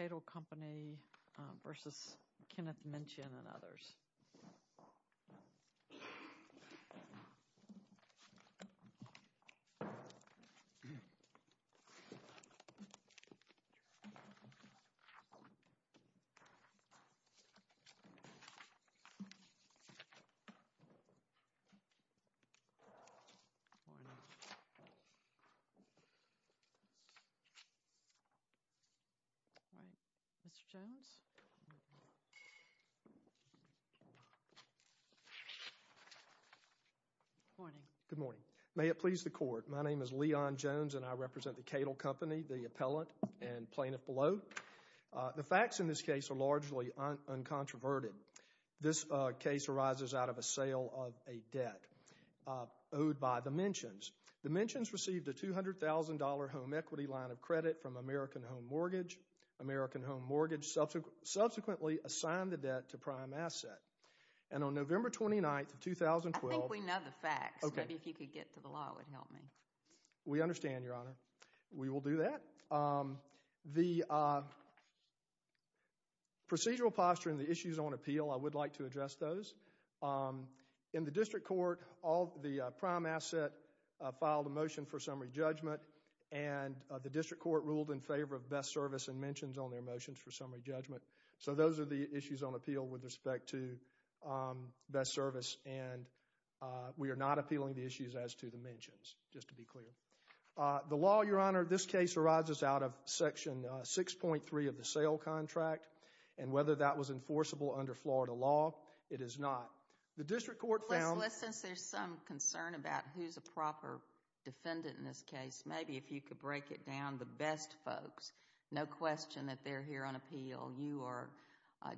and others. The facts in this case are largely uncontroverted. This case arises out of a sale of a debt owed by the Menchions. The Menchions received a $200,000 home equity line of credit from American Home Mortgage. American Home Mortgage subsequently assigned the debt to Prime Asset. And on November 29, 2012... I think we know the facts. Maybe if you could get to the law, it would help me. We understand, Your Honor. We will do that. The procedural posture and the issues on appeal, I would like to address those. In the District Court, the Prime Asset filed a motion for summary judgment. And the District Court ruled in favor of Best Service and Menchions on their motions for summary judgment. So those are the issues on appeal with respect to Best Service. And we are not appealing the issues as to the Menchions, just to be clear. The law, Your Honor, this case arises out of Section 6.3 of the sale contract. And whether that was enforceable under Florida law, it is not. The District Court found... Well, since there's some concern about who's a proper defendant in this case, maybe if you could break it down, the Best folks. No question that they're here on appeal. You are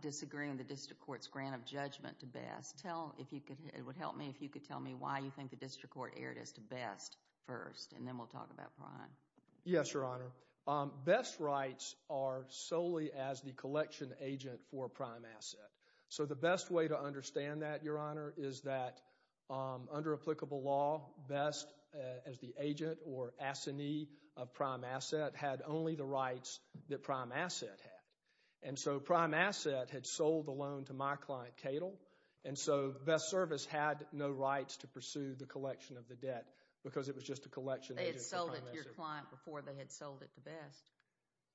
disagreeing the District Court's grant of judgment to Best. It would help me if you could tell me why you think the District Court erred as to Best first. And then we'll talk about Prime. Yes, Your Honor. Best rights are solely as the collection agent for Prime Asset. So the best way to understand that, Your Honor, is that under applicable law, Best, as the agent or assignee of Prime Asset, had only the rights that Prime Asset had. And so Prime Asset had sold the loan to my client, Cadle. And so Best Service had no rights to pursue the collection of the debt because it was just a collection agent for Prime Asset. But they sold it to your client before they had sold it to Best.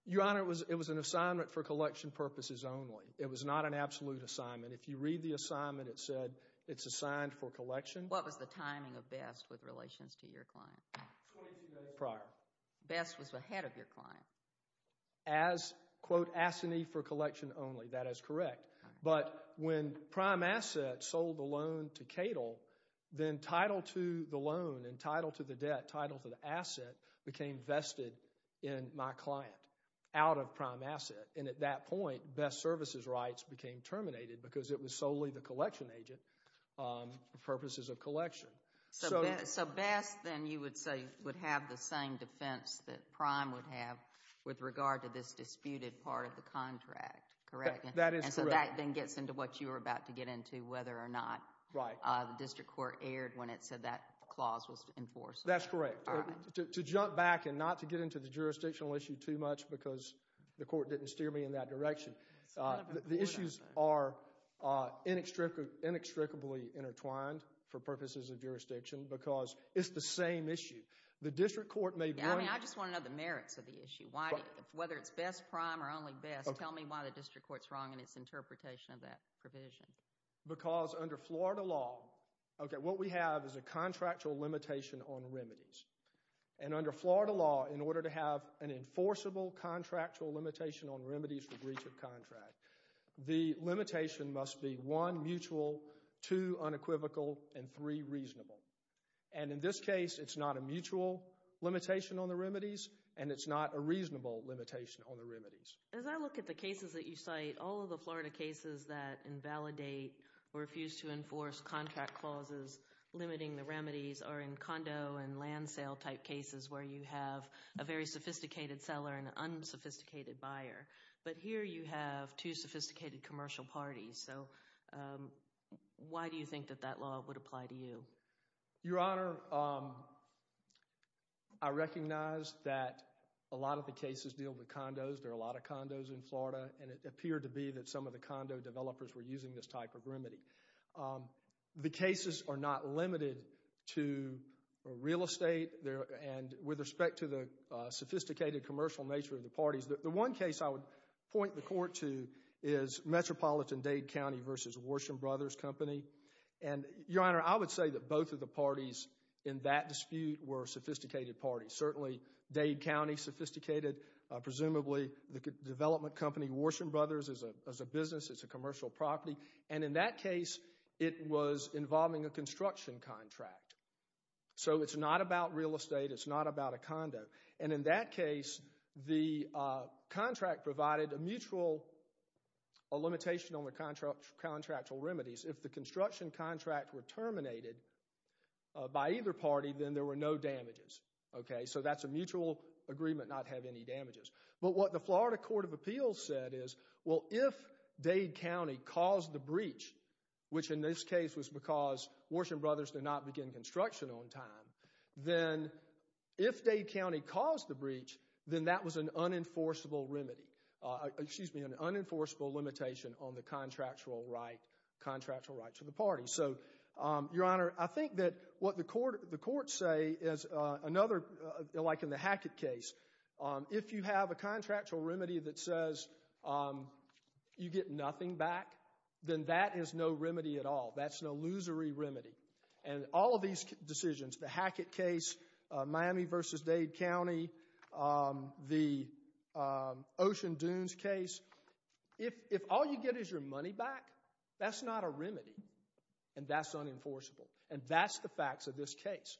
Your Honor, it was an assignment for collection purposes only. It was not an absolute assignment. If you read the assignment, it said it's assigned for collection. What was the timing of Best with relations to your client? Twenty-two days prior. Best was ahead of your client. As, quote, assignee for collection only. That is correct. But when Prime Asset sold the loan to Cadle, then title to the loan and title to the debt, title to the asset, became vested in my client, out of Prime Asset. And at that point, Best Services' rights became terminated because it was solely the collection agent for purposes of collection. So Best, then, you would say, would have the same defense that Prime would have with regard to this disputed part of the contract, correct? That is correct. And so that then gets into what you were about to get into, whether or not the district court erred when it said that clause was enforced. That's correct. To jump back, and not to get into the jurisdictional issue too much because the court didn't steer me in that direction, the issues are inextricably intertwined for purposes of jurisdiction because it's the same issue. The district court may blame— I just want to know the merits of the issue. Whether it's Best Prime or only Best, tell me why the district court's wrong in its interpretation of that provision. Because under Florida law, what we have is a contractual limitation on remedies. And under Florida law, in order to have an enforceable contractual limitation on remedies for breach of contract, the limitation must be one, mutual, two, unequivocal, and three, reasonable. And in this case, it's not a mutual limitation on the remedies, and it's not a reasonable limitation on the remedies. As I look at the cases that you cite, all of the Florida cases that invalidate or refuse to enforce contract clauses limiting the remedies are in condo and land sale type cases where you have a very sophisticated seller and an unsophisticated buyer. But here you have two sophisticated commercial parties. So why do you think that that law would apply to you? Your Honor, I recognize that a lot of the cases deal with condos. There are a lot of condos in Florida, and it appeared to be that some of the condo developers were using this type of remedy. The cases are not limited to real estate and with respect to the sophisticated commercial nature of the parties. The one case I would point the court to is Metropolitan-Dade County v. Worsham Brothers Company. And, Your Honor, I would say that both of the parties in that dispute were sophisticated parties. Certainly, Dade County, sophisticated. Presumably, the development company Worsham Brothers is a business. It's a commercial property. And in that case, it was involving a construction contract. So it's not about real estate. It's not about a condo. And in that case, the contract provided a mutual limitation on the contractual remedies. If the construction contract were terminated by either party, then there were no damages. So that's a mutual agreement not to have any damages. But what the Florida Court of Appeals said is, well, if Dade County caused the breach, which in this case was because Worsham Brothers did not begin construction on time, then if Dade County caused the breach, then that was an unenforceable remedy. Excuse me, an unenforceable limitation on the contractual right to the party. So, Your Honor, I think that what the courts say is another, like in the Hackett case, if you have a contractual remedy that says you get nothing back, then that is no remedy at all. That's an illusory remedy. And all of these decisions, the Hackett case, Miami v. Dade County, the Ocean Dunes case, if all you get is your money back, that's not a remedy. And that's unenforceable. And that's the facts of this case.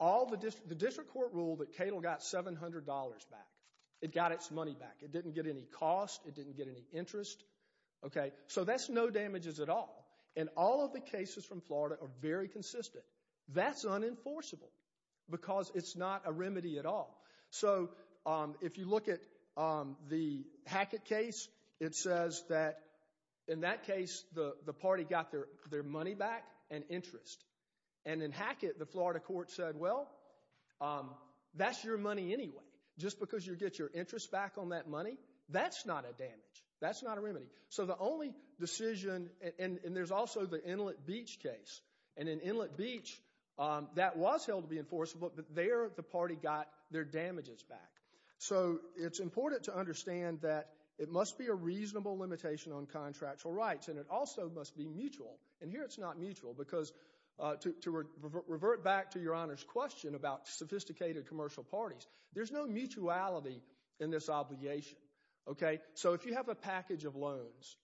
The district court ruled that Cato got $700 back. It got its money back. It didn't get any cost. It didn't get any interest. So that's no damages at all. And all of the cases from Florida are very consistent. That's unenforceable because it's not a remedy at all. So if you look at the Hackett case, it says that in that case the party got their money back and interest. And in Hackett, the Florida court said, well, that's your money anyway. Just because you get your interest back on that money, that's not a damage. That's not a remedy. So the only decision, and there's also the Inlet Beach case. And in Inlet Beach, that was held to be enforceable, but there the party got their damages back. So it's important to understand that it must be a reasonable limitation on contractual rights. And it also must be mutual. And here it's not mutual because to revert back to Your Honor's question about sophisticated commercial parties, there's no mutuality in this obligation. So if you have a package of loans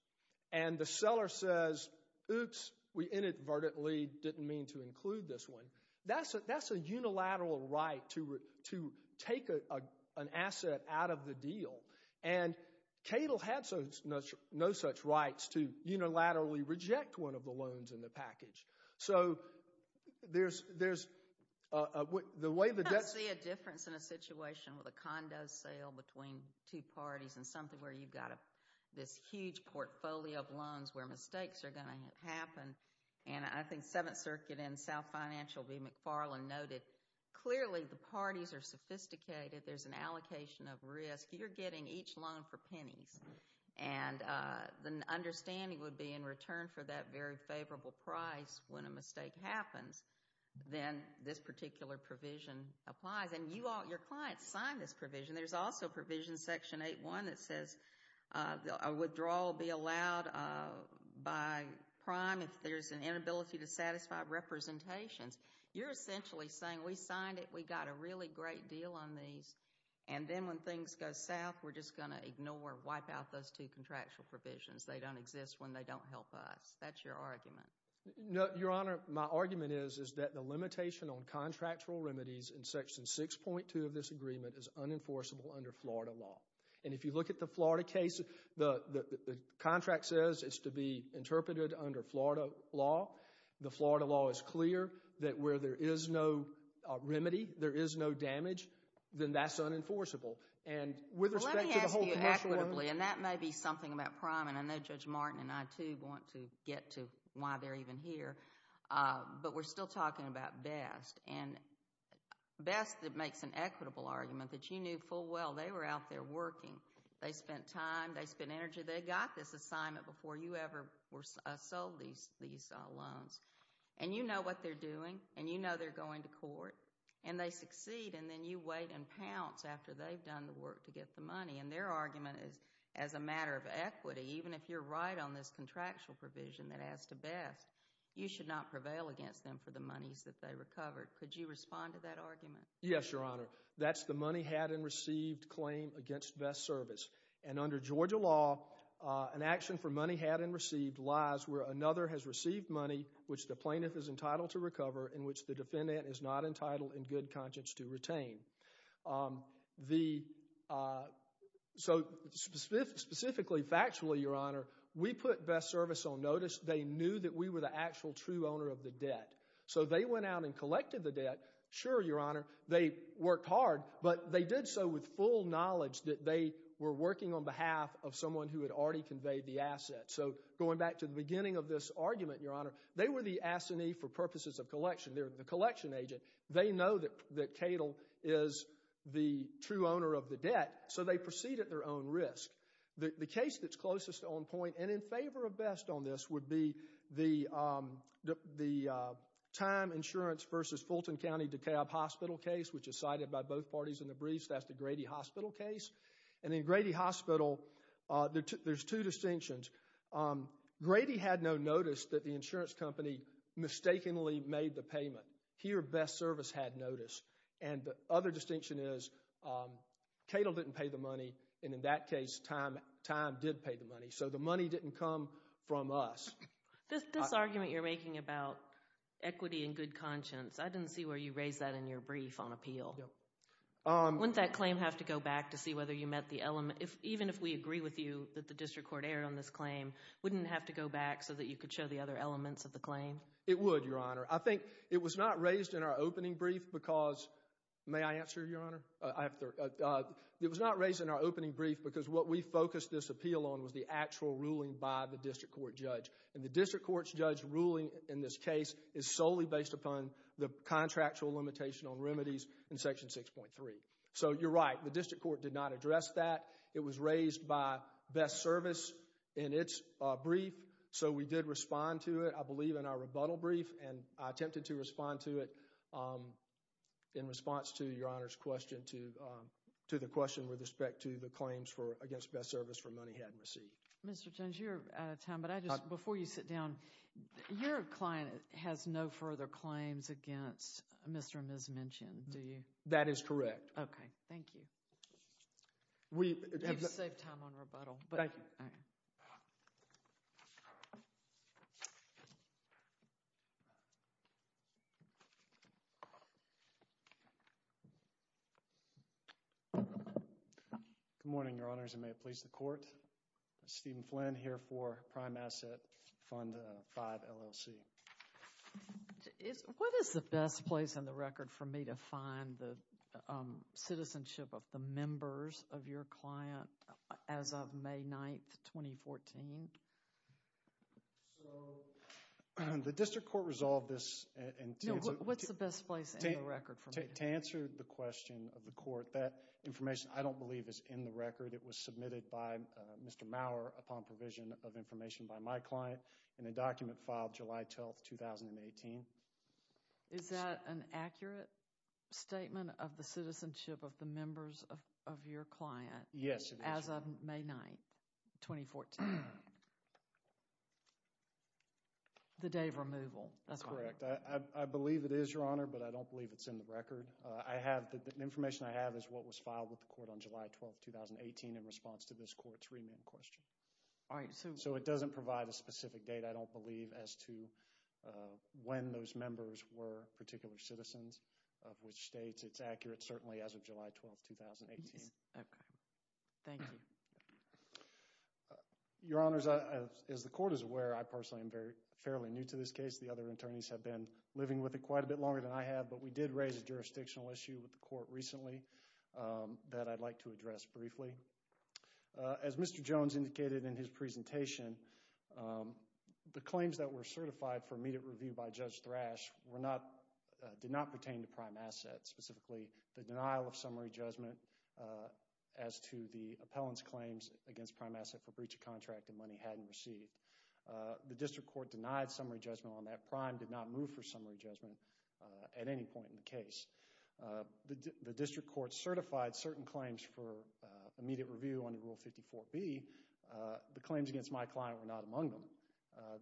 and the seller says, oops, we inadvertently didn't mean to include this one, that's a unilateral right to take an asset out of the deal. And Cato had no such rights to unilaterally reject one of the loans in the package. So there's the way the debt— I don't see a difference in a situation with a condo sale between two parties and something where you've got this huge portfolio of loans where mistakes are going to happen. And I think Seventh Circuit and South Financial v. McFarland noted, clearly the parties are sophisticated. There's an allocation of risk. You're getting each loan for pennies. And the understanding would be in return for that very favorable price when a mistake happens, then this particular provision applies. And your clients sign this provision. There's also provision, Section 8.1, that says a withdrawal will be allowed by prime if there's an inability to satisfy representations. You're essentially saying we signed it, we got a really great deal on these, and then when things go south, we're just going to ignore, wipe out those two contractual provisions. They don't exist when they don't help us. That's your argument. Your Honor, my argument is that the limitation on contractual remedies in Section 6.2 of this agreement is unenforceable under Florida law. And if you look at the Florida case, the contract says it's to be interpreted under Florida law. The Florida law is clear that where there is no remedy, there is no damage. Then that's unenforceable. Let me ask you equitably, and that may be something about prime, and I know Judge Martin and I too want to get to why they're even here, but we're still talking about BEST. And BEST makes an equitable argument that you knew full well they were out there working. They spent time, they spent energy, they got this assignment before you ever sold these loans. And you know what they're doing, and you know they're going to court. And they succeed, and then you wait in pounce after they've done the work to get the money. And their argument is as a matter of equity, even if you're right on this contractual provision that adds to BEST, you should not prevail against them for the monies that they recovered. Could you respond to that argument? Yes, Your Honor. That's the money had and received claim against BEST Service. And under Georgia law, an action for money had and received lies where another has received money which the plaintiff is entitled to recover and which the defendant is not entitled in good conscience to retain. So specifically, factually, Your Honor, we put BEST Service on notice. They knew that we were the actual true owner of the debt. So they went out and collected the debt. Sure, Your Honor, they worked hard, but they did so with full knowledge that they were working on behalf of someone who had already conveyed the asset. So going back to the beginning of this argument, Your Honor, they were the assinee for purposes of collection. They're the collection agent. They know that Cadle is the true owner of the debt, so they proceed at their own risk. The case that's closest on point and in favor of BEST on this would be the Time Insurance versus Fulton County DeKalb Hospital case, which is cited by both parties in the briefs. That's the Grady Hospital case. And in Grady Hospital, there's two distinctions. Grady had no notice that the insurance company mistakenly made the payment. Here, BEST Service had notice. And the other distinction is Cadle didn't pay the money, and in that case, Time did pay the money. So the money didn't come from us. This argument you're making about equity and good conscience, I didn't see where you raised that in your brief on appeal. Wouldn't that claim have to go back to see whether you met the element? Even if we agree with you that the district court erred on this claim, wouldn't it have to go back so that you could show the other elements of the claim? It would, Your Honor. I think it was not raised in our opening brief because—may I answer, Your Honor? It was not raised in our opening brief because what we focused this appeal on was the actual ruling by the district court judge. And the district court judge's ruling in this case is solely based upon the contractual limitation on remedies in Section 6.3. So you're right. The district court did not address that. It was raised by BEST Service in its brief, so we did respond to it, I believe, in our rebuttal brief. And I attempted to respond to it in response to Your Honor's question, to the question with respect to the claims against BEST Service for money he hadn't received. Mr. Jones, you're out of time, but I just—before you sit down, your client has no further claims against Mr. and Ms. Minchin, do you? That is correct. Okay. Thank you. We— You've saved time on rebuttal, but— Thank you. Good morning, Your Honors, and may it please the Court. Steven Flynn here for Prime Asset Fund 5 LLC. What is the best place in the record for me to find the citizenship of the members of your client as of May 9, 2014? The district court resolved this— No, what's the best place in the record for me? To answer the question of the court, that information I don't believe is in the record. It was submitted by Mr. Maurer upon provision of information by my client in a document filed July 12, 2018. Is that an accurate statement of the citizenship of the members of your client— Yes, it is, Your Honor. —as of May 9, 2014? The day of removal, that's what I heard. That's correct. I believe it is, Your Honor, but I don't believe it's in the record. I have—the information I have is what was filed with the court on July 12, 2018 in response to this court's remand question. All right, so— So, it doesn't provide a specific date, I don't believe, as to when those members were particular citizens, of which states. It's accurate, certainly, as of July 12, 2018. Okay. Thank you. Your Honors, as the court is aware, I personally am fairly new to this case. The other attorneys have been living with it quite a bit longer than I have, but we did raise a jurisdictional issue with the court recently that I'd like to address briefly. As Mr. Jones indicated in his presentation, the claims that were certified for immediate review by Judge Thrash were not—did not pertain to prime assets, specifically the denial of summary judgment as to the appellant's claims against prime asset for breach of contract and money hadn't received. The district court denied summary judgment on that prime, did not move for summary judgment at any point in the case. The district court certified certain claims for immediate review under Rule 54B. The claims against my client were not among them.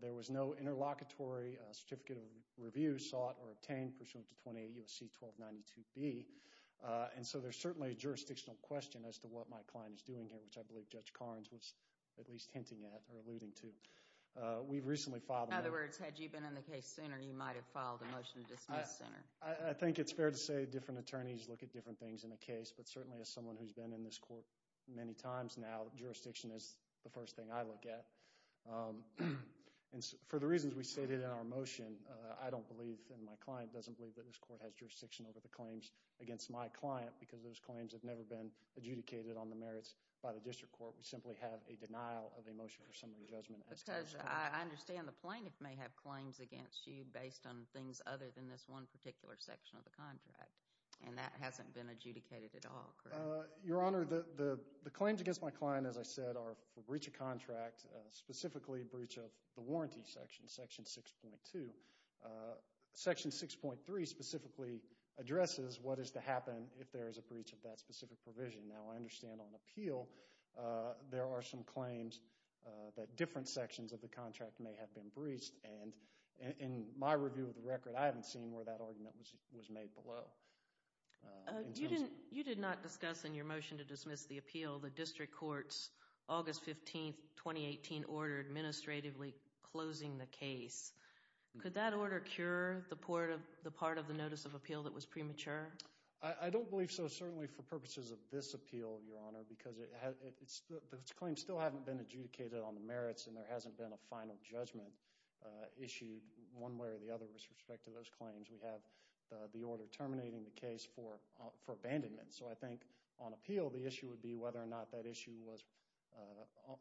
There was no interlocutory certificate of review sought or obtained pursuant to 28 U.S.C. 1292B. And so there's certainly a jurisdictional question as to what my client is doing here, which I believe Judge Carnes was at least hinting at or alluding to. We've recently filed— In other words, had you been in the case sooner, you might have filed a motion to dismiss sooner. I think it's fair to say different attorneys look at different things in a case, but certainly as someone who's been in this court many times now, jurisdiction is the first thing I look at. And for the reasons we stated in our motion, I don't believe, and my client doesn't believe, that this court has jurisdiction over the claims against my client because those claims have never been adjudicated on the merits by the district court. We simply have a denial of a motion for summary judgment. Because I understand the plaintiff may have claims against you based on things other than this one particular section of the contract, and that hasn't been adjudicated at all, correct? Your Honor, the claims against my client, as I said, are for breach of contract, specifically a breach of the warranty section, section 6.2. Section 6.3 specifically addresses what is to happen if there is a breach of that specific provision. Now, I understand on appeal there are some claims that different sections of the contract may have been breached, and in my review of the record, I haven't seen where that argument was made below. You did not discuss in your motion to dismiss the appeal the district court's August 15, 2018 order administratively closing the case. Could that order cure the part of the notice of appeal that was premature? I don't believe so, certainly for purposes of this appeal, Your Honor, because those claims still haven't been adjudicated on the merits and there hasn't been a final judgment issued one way or the other with respect to those claims. We have the order terminating the case for abandonment, so I think on appeal the issue would be whether or not that issue was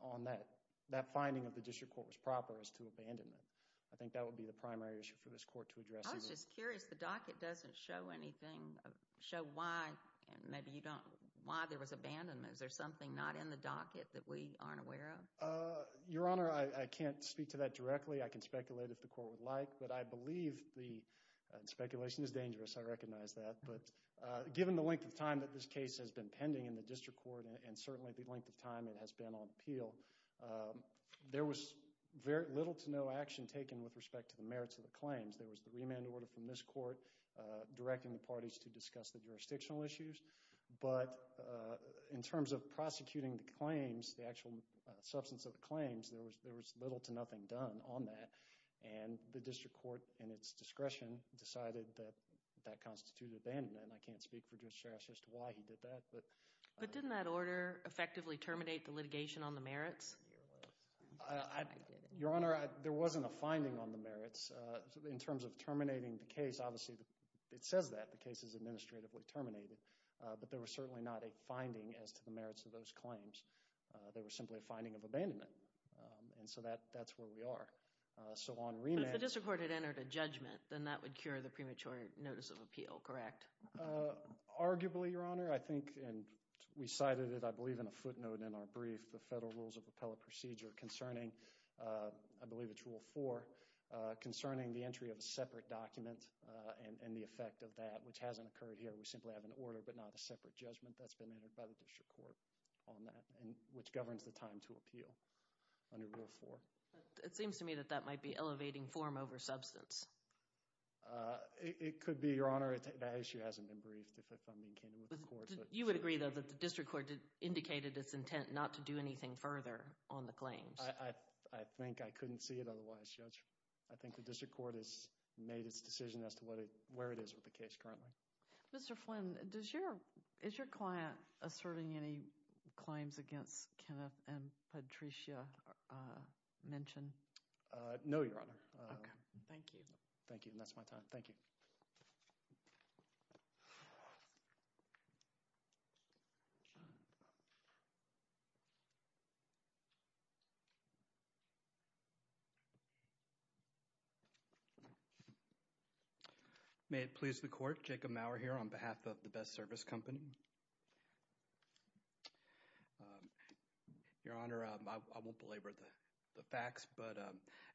on that, that finding of the district court was proper as to abandonment. I think that would be the primary issue for this court to address. I was just curious. The docket doesn't show anything, show why, maybe you don't, why there was abandonment. Is there something not in the docket that we aren't aware of? Your Honor, I can't speak to that directly. I can speculate if the court would like, but I believe the speculation is dangerous, I recognize that, but given the length of time that this case has been pending in the district court and certainly the length of time it has been on appeal, there was very little to no action taken with respect to the merits of the claims. There was the remand order from this court directing the parties to discuss the jurisdictional issues, but in terms of prosecuting the claims, the actual substance of the claims, there was little to nothing done on that, and the district court in its discretion decided that that constituted abandonment, and I can't speak for Judge Sharras as to why he did that. But didn't that order effectively terminate the litigation on the merits? Your Honor, there wasn't a finding on the merits. In terms of terminating the case, obviously it says that the case is administratively terminated, but there was certainly not a finding as to the merits of those claims. There was simply a finding of abandonment, and so that's where we are. So on remand— But if the district court had entered a judgment, then that would cure the premature notice of appeal, correct? Arguably, Your Honor. I think we cited it, I believe, in a footnote in our brief, the Federal Rules of Appellate Procedure concerning, I believe it's Rule 4, concerning the entry of a separate document and the effect of that, which hasn't occurred here. We simply have an order but not a separate judgment that's been entered by the district court on that, which governs the time to appeal under Rule 4. It seems to me that that might be elevating form over substance. It could be, Your Honor. That issue hasn't been briefed, if I'm being candid with the court. You would agree, though, that the district court indicated its intent not to do anything further on the claims. I think I couldn't see it otherwise, Judge. I think the district court has made its decision as to where it is with the case currently. Mr. Flynn, is your client asserting any claims against Kenneth and Patricia mentioned? No, Your Honor. Okay. Thank you. Thank you, and that's my time. Thank you. Thank you. May it please the court, Jacob Maurer here on behalf of the Best Service Company. Your Honor, I won't belabor the facts, but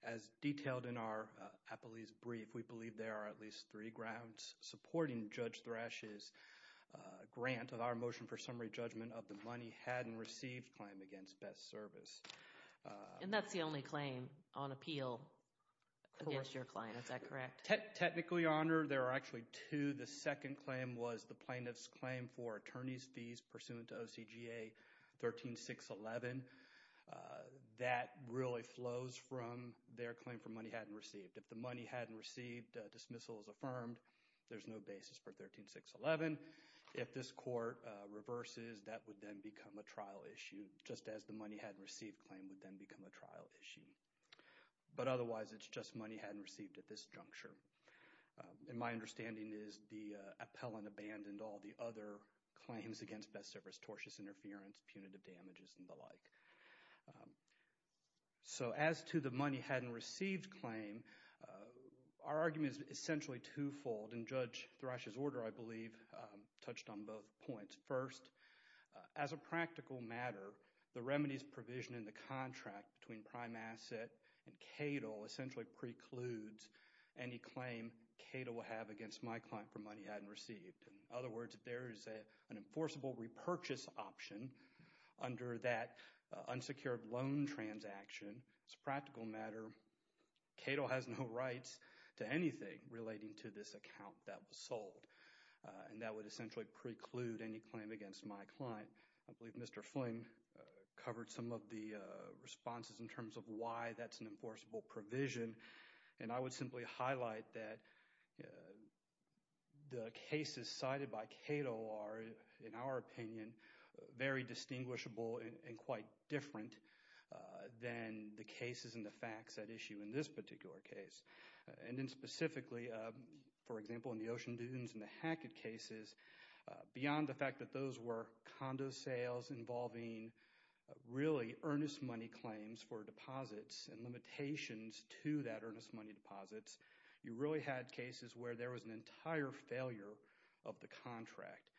as detailed in our appellee's brief, we believe there are at least three grounds supporting Judge Thrash's grant of our motion for summary judgment of the money hadn't received claim against Best Service. And that's the only claim on appeal against your client. Is that correct? Technically, Your Honor, there are actually two. The second claim was the plaintiff's claim for attorney's fees pursuant to OCGA 13611. That really flows from their claim for money hadn't received. If the money hadn't received, dismissal is affirmed. There's no basis for 13611. If this court reverses, that would then become a trial issue, just as the money hadn't received claim would then become a trial issue. But otherwise, it's just money hadn't received at this juncture. And my understanding is the appellant abandoned all the other claims against Best Service, tortious interference, punitive damages, and the like. So as to the money hadn't received claim, our argument is essentially twofold, and Judge Thrash's order, I believe, touched on both points. First, as a practical matter, the remedies provision in the contract between prime asset and CAITL essentially precludes any claim CAITL will have against my client for money hadn't received. In other words, if there is an enforceable repurchase option under that unsecured loan transaction, as a practical matter, CAITL has no rights to anything relating to this account that was sold. And that would essentially preclude any claim against my client. I believe Mr. Flynn covered some of the responses in terms of why that's an enforceable provision. And I would simply highlight that the cases cited by CAITL are, in our opinion, very distinguishable and quite different than the cases and the facts at issue in this particular case. And then specifically, for example, in the Ocean Dunes and the Hackett cases, beyond the fact that those were condo sales involving really earnest money claims for deposits and limitations to that earnest money deposits, you really had cases where there was an entire failure of the contract.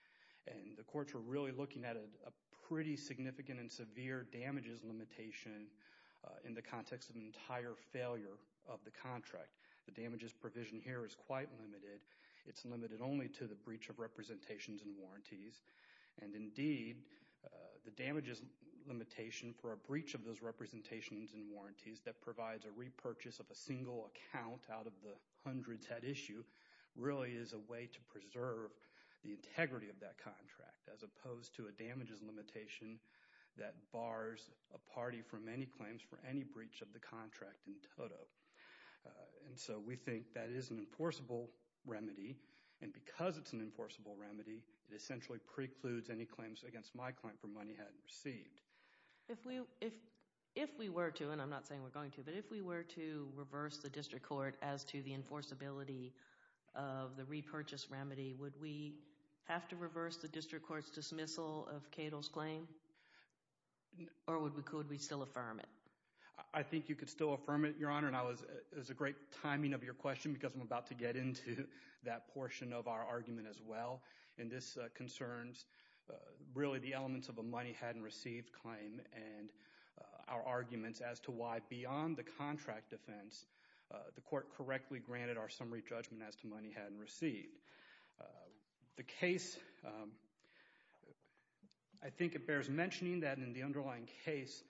And the courts were really looking at a pretty significant and severe damages limitation in the context of an entire failure of the contract. The damages provision here is quite limited. It's limited only to the breach of representations and warranties. And indeed, the damages limitation for a breach of those representations and warranties that provides a repurchase of a single account out of the hundreds at issue really is a way to preserve the integrity of that contract, as opposed to a damages limitation that bars a party from any claims for any breach of the contract in total. And so we think that is an enforceable remedy. And because it's an enforceable remedy, it essentially precludes any claims against my client for money hadn't received. If we were to, and I'm not saying we're going to, but if we were to reverse the district court as to the enforceability of the repurchase remedy, would we have to reverse the district court's dismissal of Cato's claim? Or would we still affirm it? I think you could still affirm it, Your Honor. And it was a great timing of your question because I'm about to get into that portion of our argument as well. And this concerns really the elements of a money hadn't received claim and our arguments as to why beyond the contract defense, the court correctly granted our summary judgment as to money hadn't received. The case, I think it bears mentioning that in the underlying case,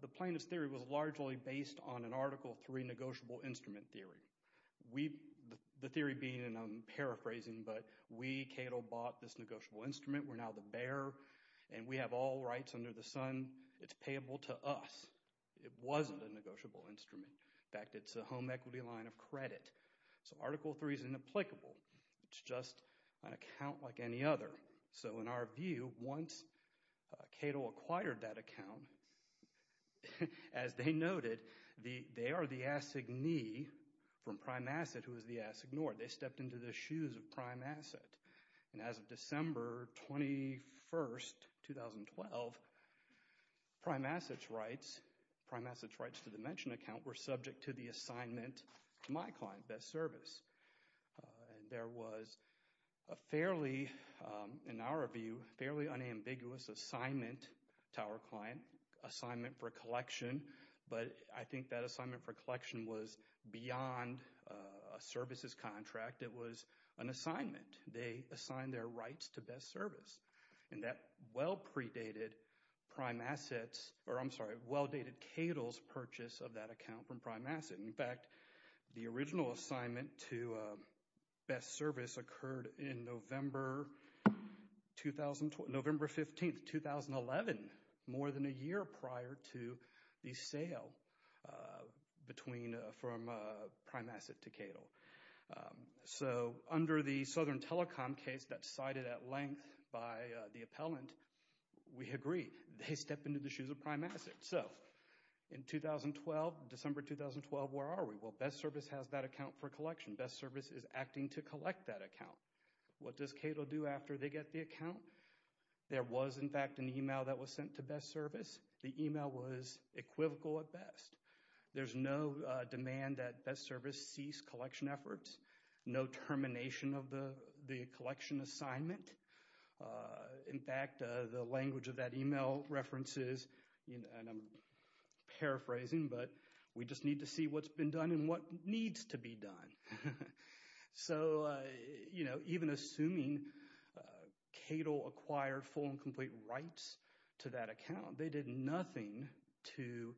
the plaintiff's theory was largely based on an Article III negotiable instrument theory. The theory being, and I'm paraphrasing, but we, Cato, bought this negotiable instrument. We're now the bearer, and we have all rights under the sun. It's payable to us. It wasn't a negotiable instrument. In fact, it's a home equity line of credit. So Article III is inapplicable. It's just an account like any other. So in our view, once Cato acquired that account, as they noted, they are the assignee from Prime Asset who is the ass ignored. They stepped into the shoes of Prime Asset. And as of December 21, 2012, Prime Asset's rights, Prime Asset's rights to the mentioned account, were subject to the assignment to my client, Best Service. There was a fairly, in our view, fairly unambiguous assignment to our client, assignment for collection. But I think that assignment for collection was beyond a services contract. It was an assignment. They assigned their rights to Best Service. And that well predated Prime Asset's, or I'm sorry, well dated Cato's purchase of that account from Prime Asset. In fact, the original assignment to Best Service occurred in November 15, 2011, more than a year prior to the sale from Prime Asset to Cato. So under the Southern Telecom case that's cited at length by the appellant, we agree. They stepped into the shoes of Prime Asset. So in 2012, December 2012, where are we? Well, Best Service has that account for collection. Best Service is acting to collect that account. What does Cato do after they get the account? There was, in fact, an email that was sent to Best Service. The email was equivocal at best. There's no demand that Best Service cease collection efforts. No termination of the collection assignment. In fact, the language of that email references, and I'm paraphrasing, but we just need to see what's been done and what needs to be done. So, you know, even assuming Cato acquired full and complete rights to that account, they did nothing to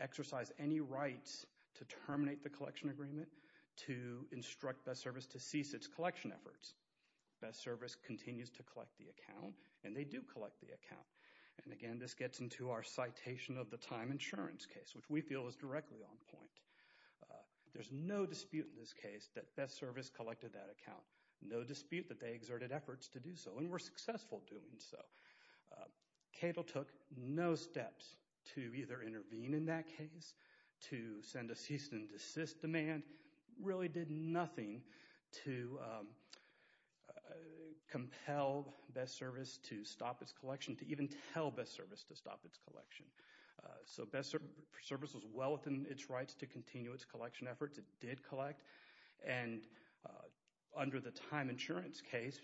exercise any rights to terminate the collection agreement, to instruct Best Service to cease its collection efforts. Best Service continues to collect the account, and they do collect the account. And, again, this gets into our citation of the time insurance case, which we feel is directly on point. There's no dispute in this case that Best Service collected that account, no dispute that they exerted efforts to do so and were successful doing so. Cato took no steps to either intervene in that case, to send a cease and desist demand, really did nothing to compel Best Service to stop its collection, to even tell Best Service to stop its collection. So Best Service was well within its rights to continue its collection efforts. It did collect. And under the time insurance case,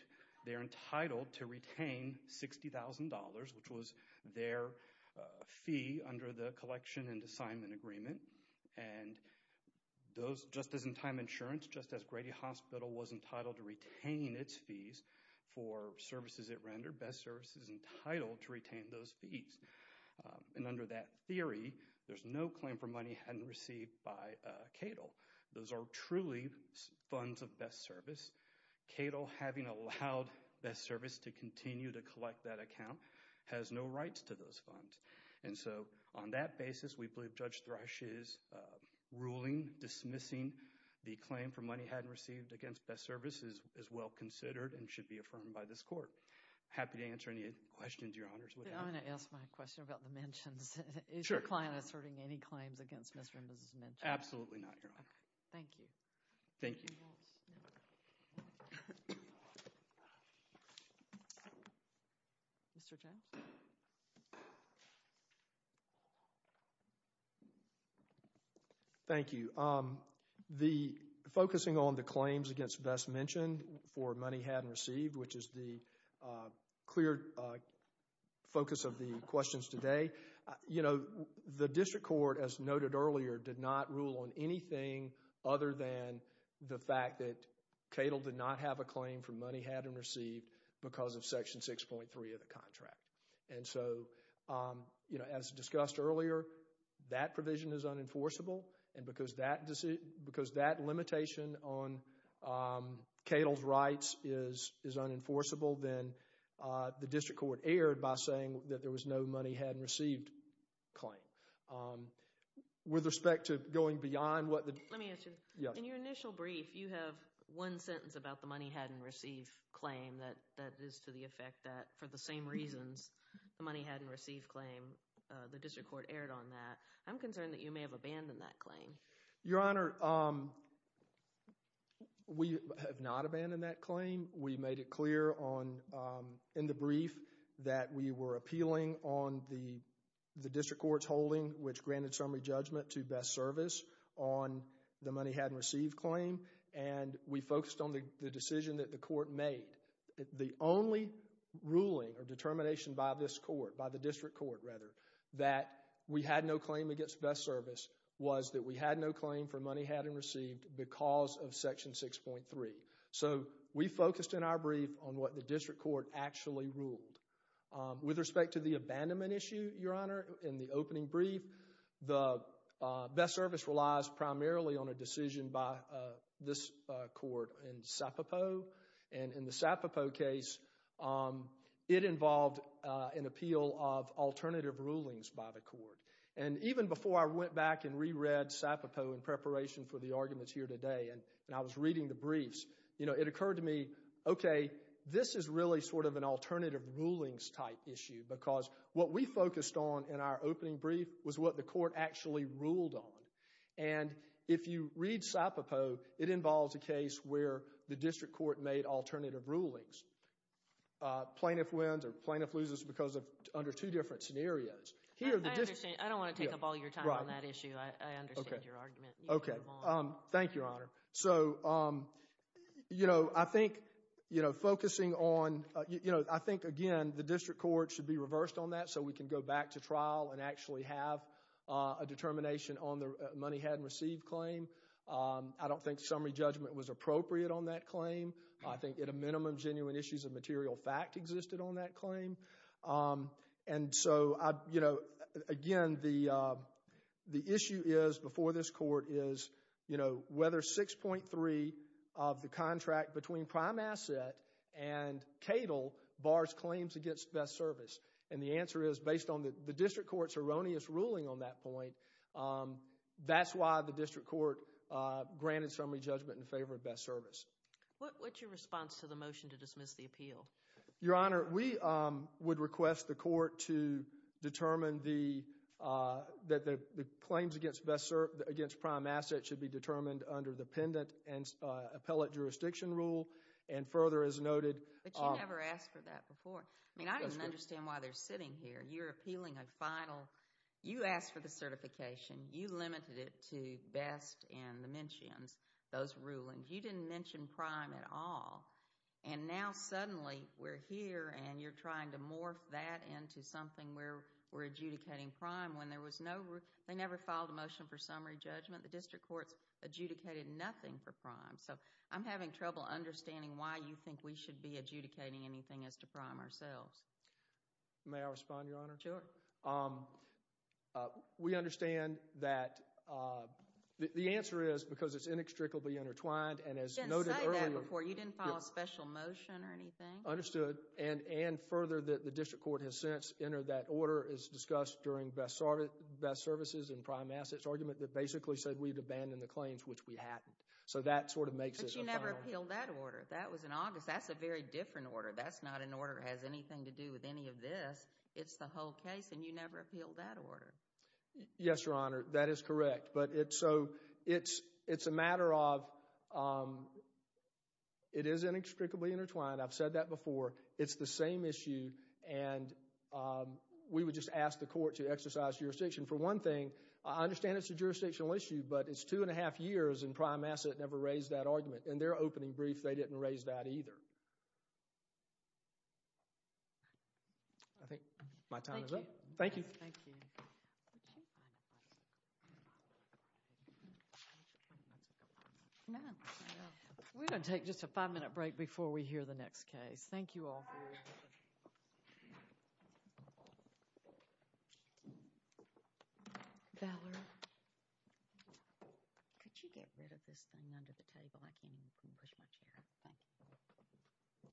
they're entitled to retain $60,000, which was their fee under the collection and assignment agreement. And just as in time insurance, just as Grady Hospital was entitled to retain its fees for services it rendered, Best Service is entitled to retain those fees. And under that theory, there's no claim for money hadn't received by Cato. Those are truly funds of Best Service. Cato, having allowed Best Service to continue to collect that account, has no rights to those funds. And so on that basis, we believe Judge Thrush's ruling dismissing the claim for money hadn't received against Best Service is well considered and should be affirmed by this court. Happy to answer any questions, Your Honors. I'm going to ask my question about the mentions. Is your client asserting any claims against Mr. and Mrs. Minchin? Absolutely not, Your Honor. Thank you. Thank you. Mr. Jones? Mr. Jones? Thank you. The focusing on the claims against Best Minchin for money hadn't received, which is the clear focus of the questions today. You know, the district court, as noted earlier, did not rule on anything other than the fact that Cato did not have a claim for money hadn't received because of Section 6.3 of the contract. And so, you know, as discussed earlier, that provision is unenforceable. And because that limitation on Cato's rights is unenforceable, then the district court erred by saying that there was no money hadn't received claim. With respect to going beyond what the— Let me ask you. In your initial brief, you have one sentence about the money hadn't received claim that is to the effect that for the same reasons the money hadn't received claim, the district court erred on that. I'm concerned that you may have abandoned that claim. Your Honor, we have not abandoned that claim. We made it clear in the brief that we were appealing on the district court's holding, which granted summary judgment to Best Service on the money hadn't received claim, and we focused on the decision that the court made. The only ruling or determination by this court, by the district court rather, that we had no claim against Best Service was that we had no claim for money hadn't received because of Section 6.3. So we focused in our brief on what the district court actually ruled. With respect to the abandonment issue, Your Honor, in the opening brief, the Best Service relies primarily on a decision by this court in Sapopo. And in the Sapopo case, it involved an appeal of alternative rulings by the court. And even before I went back and reread Sapopo in preparation for the arguments here today and I was reading the briefs, it occurred to me, okay, this is really sort of an alternative rulings type issue because what we focused on in our opening brief was what the court actually ruled on. And if you read Sapopo, it involves a case where the district court made alternative rulings. Plaintiff wins or plaintiff loses because of under two different scenarios. I don't want to take up all your time on that issue. I understand your argument. Okay. Thank you, Your Honor. So, you know, I think, you know, focusing on, you know, I think, again, the district court should be reversed on that so we can go back to trial and actually have a determination on the money hadn't received claim. I don't think summary judgment was appropriate on that claim. I think at a minimum, genuine issues of material fact existed on that claim. And so, you know, again, the issue is before this court is, you know, whether 6.3 of the contract between Prime Asset and Cadle bars claims against best service. And the answer is based on the district court's erroneous ruling on that point, that's why the district court granted summary judgment in favor of best service. What's your response to the motion to dismiss the appeal? Your Honor, we would request the court to determine the claims against Prime Asset should be determined under the pendant and appellate jurisdiction rule. And further, as noted. But you never asked for that before. I mean, I don't understand why they're sitting here. You're appealing a final. You asked for the certification. You limited it to best and the mentions, those rulings. You didn't mention Prime at all. And now suddenly we're here and you're trying to morph that into something where we're adjudicating Prime when there was no rule. They never filed a motion for summary judgment. The district courts adjudicated nothing for Prime. So I'm having trouble understanding why you think we should be adjudicating anything as to Prime ourselves. May I respond, Your Honor? Sure. We understand that the answer is because it's inextricably intertwined. You didn't say that before. You didn't file a special motion or anything? Understood. And further, the district court has since entered that order is discussed during best services and Prime Asset's argument that basically said we'd abandon the claims, which we hadn't. So that sort of makes it a final. But you never appealed that order. That was in August. That's a very different order. That's not an order that has anything to do with any of this. It's the whole case and you never appealed that order. Yes, Your Honor. That is correct. It's a matter of it is inextricably intertwined. I've said that before. It's the same issue and we would just ask the court to exercise jurisdiction for one thing. I understand it's a jurisdictional issue, but it's two and a half years and Prime Asset never raised that argument. In their opening brief, they didn't raise that either. I think my time is up. Thank you. We're going to take just a five-minute break before we hear the next case. Thank you all very much. Valerie. Could you get rid of this thing under the table? I can't even push my chair. Thank you.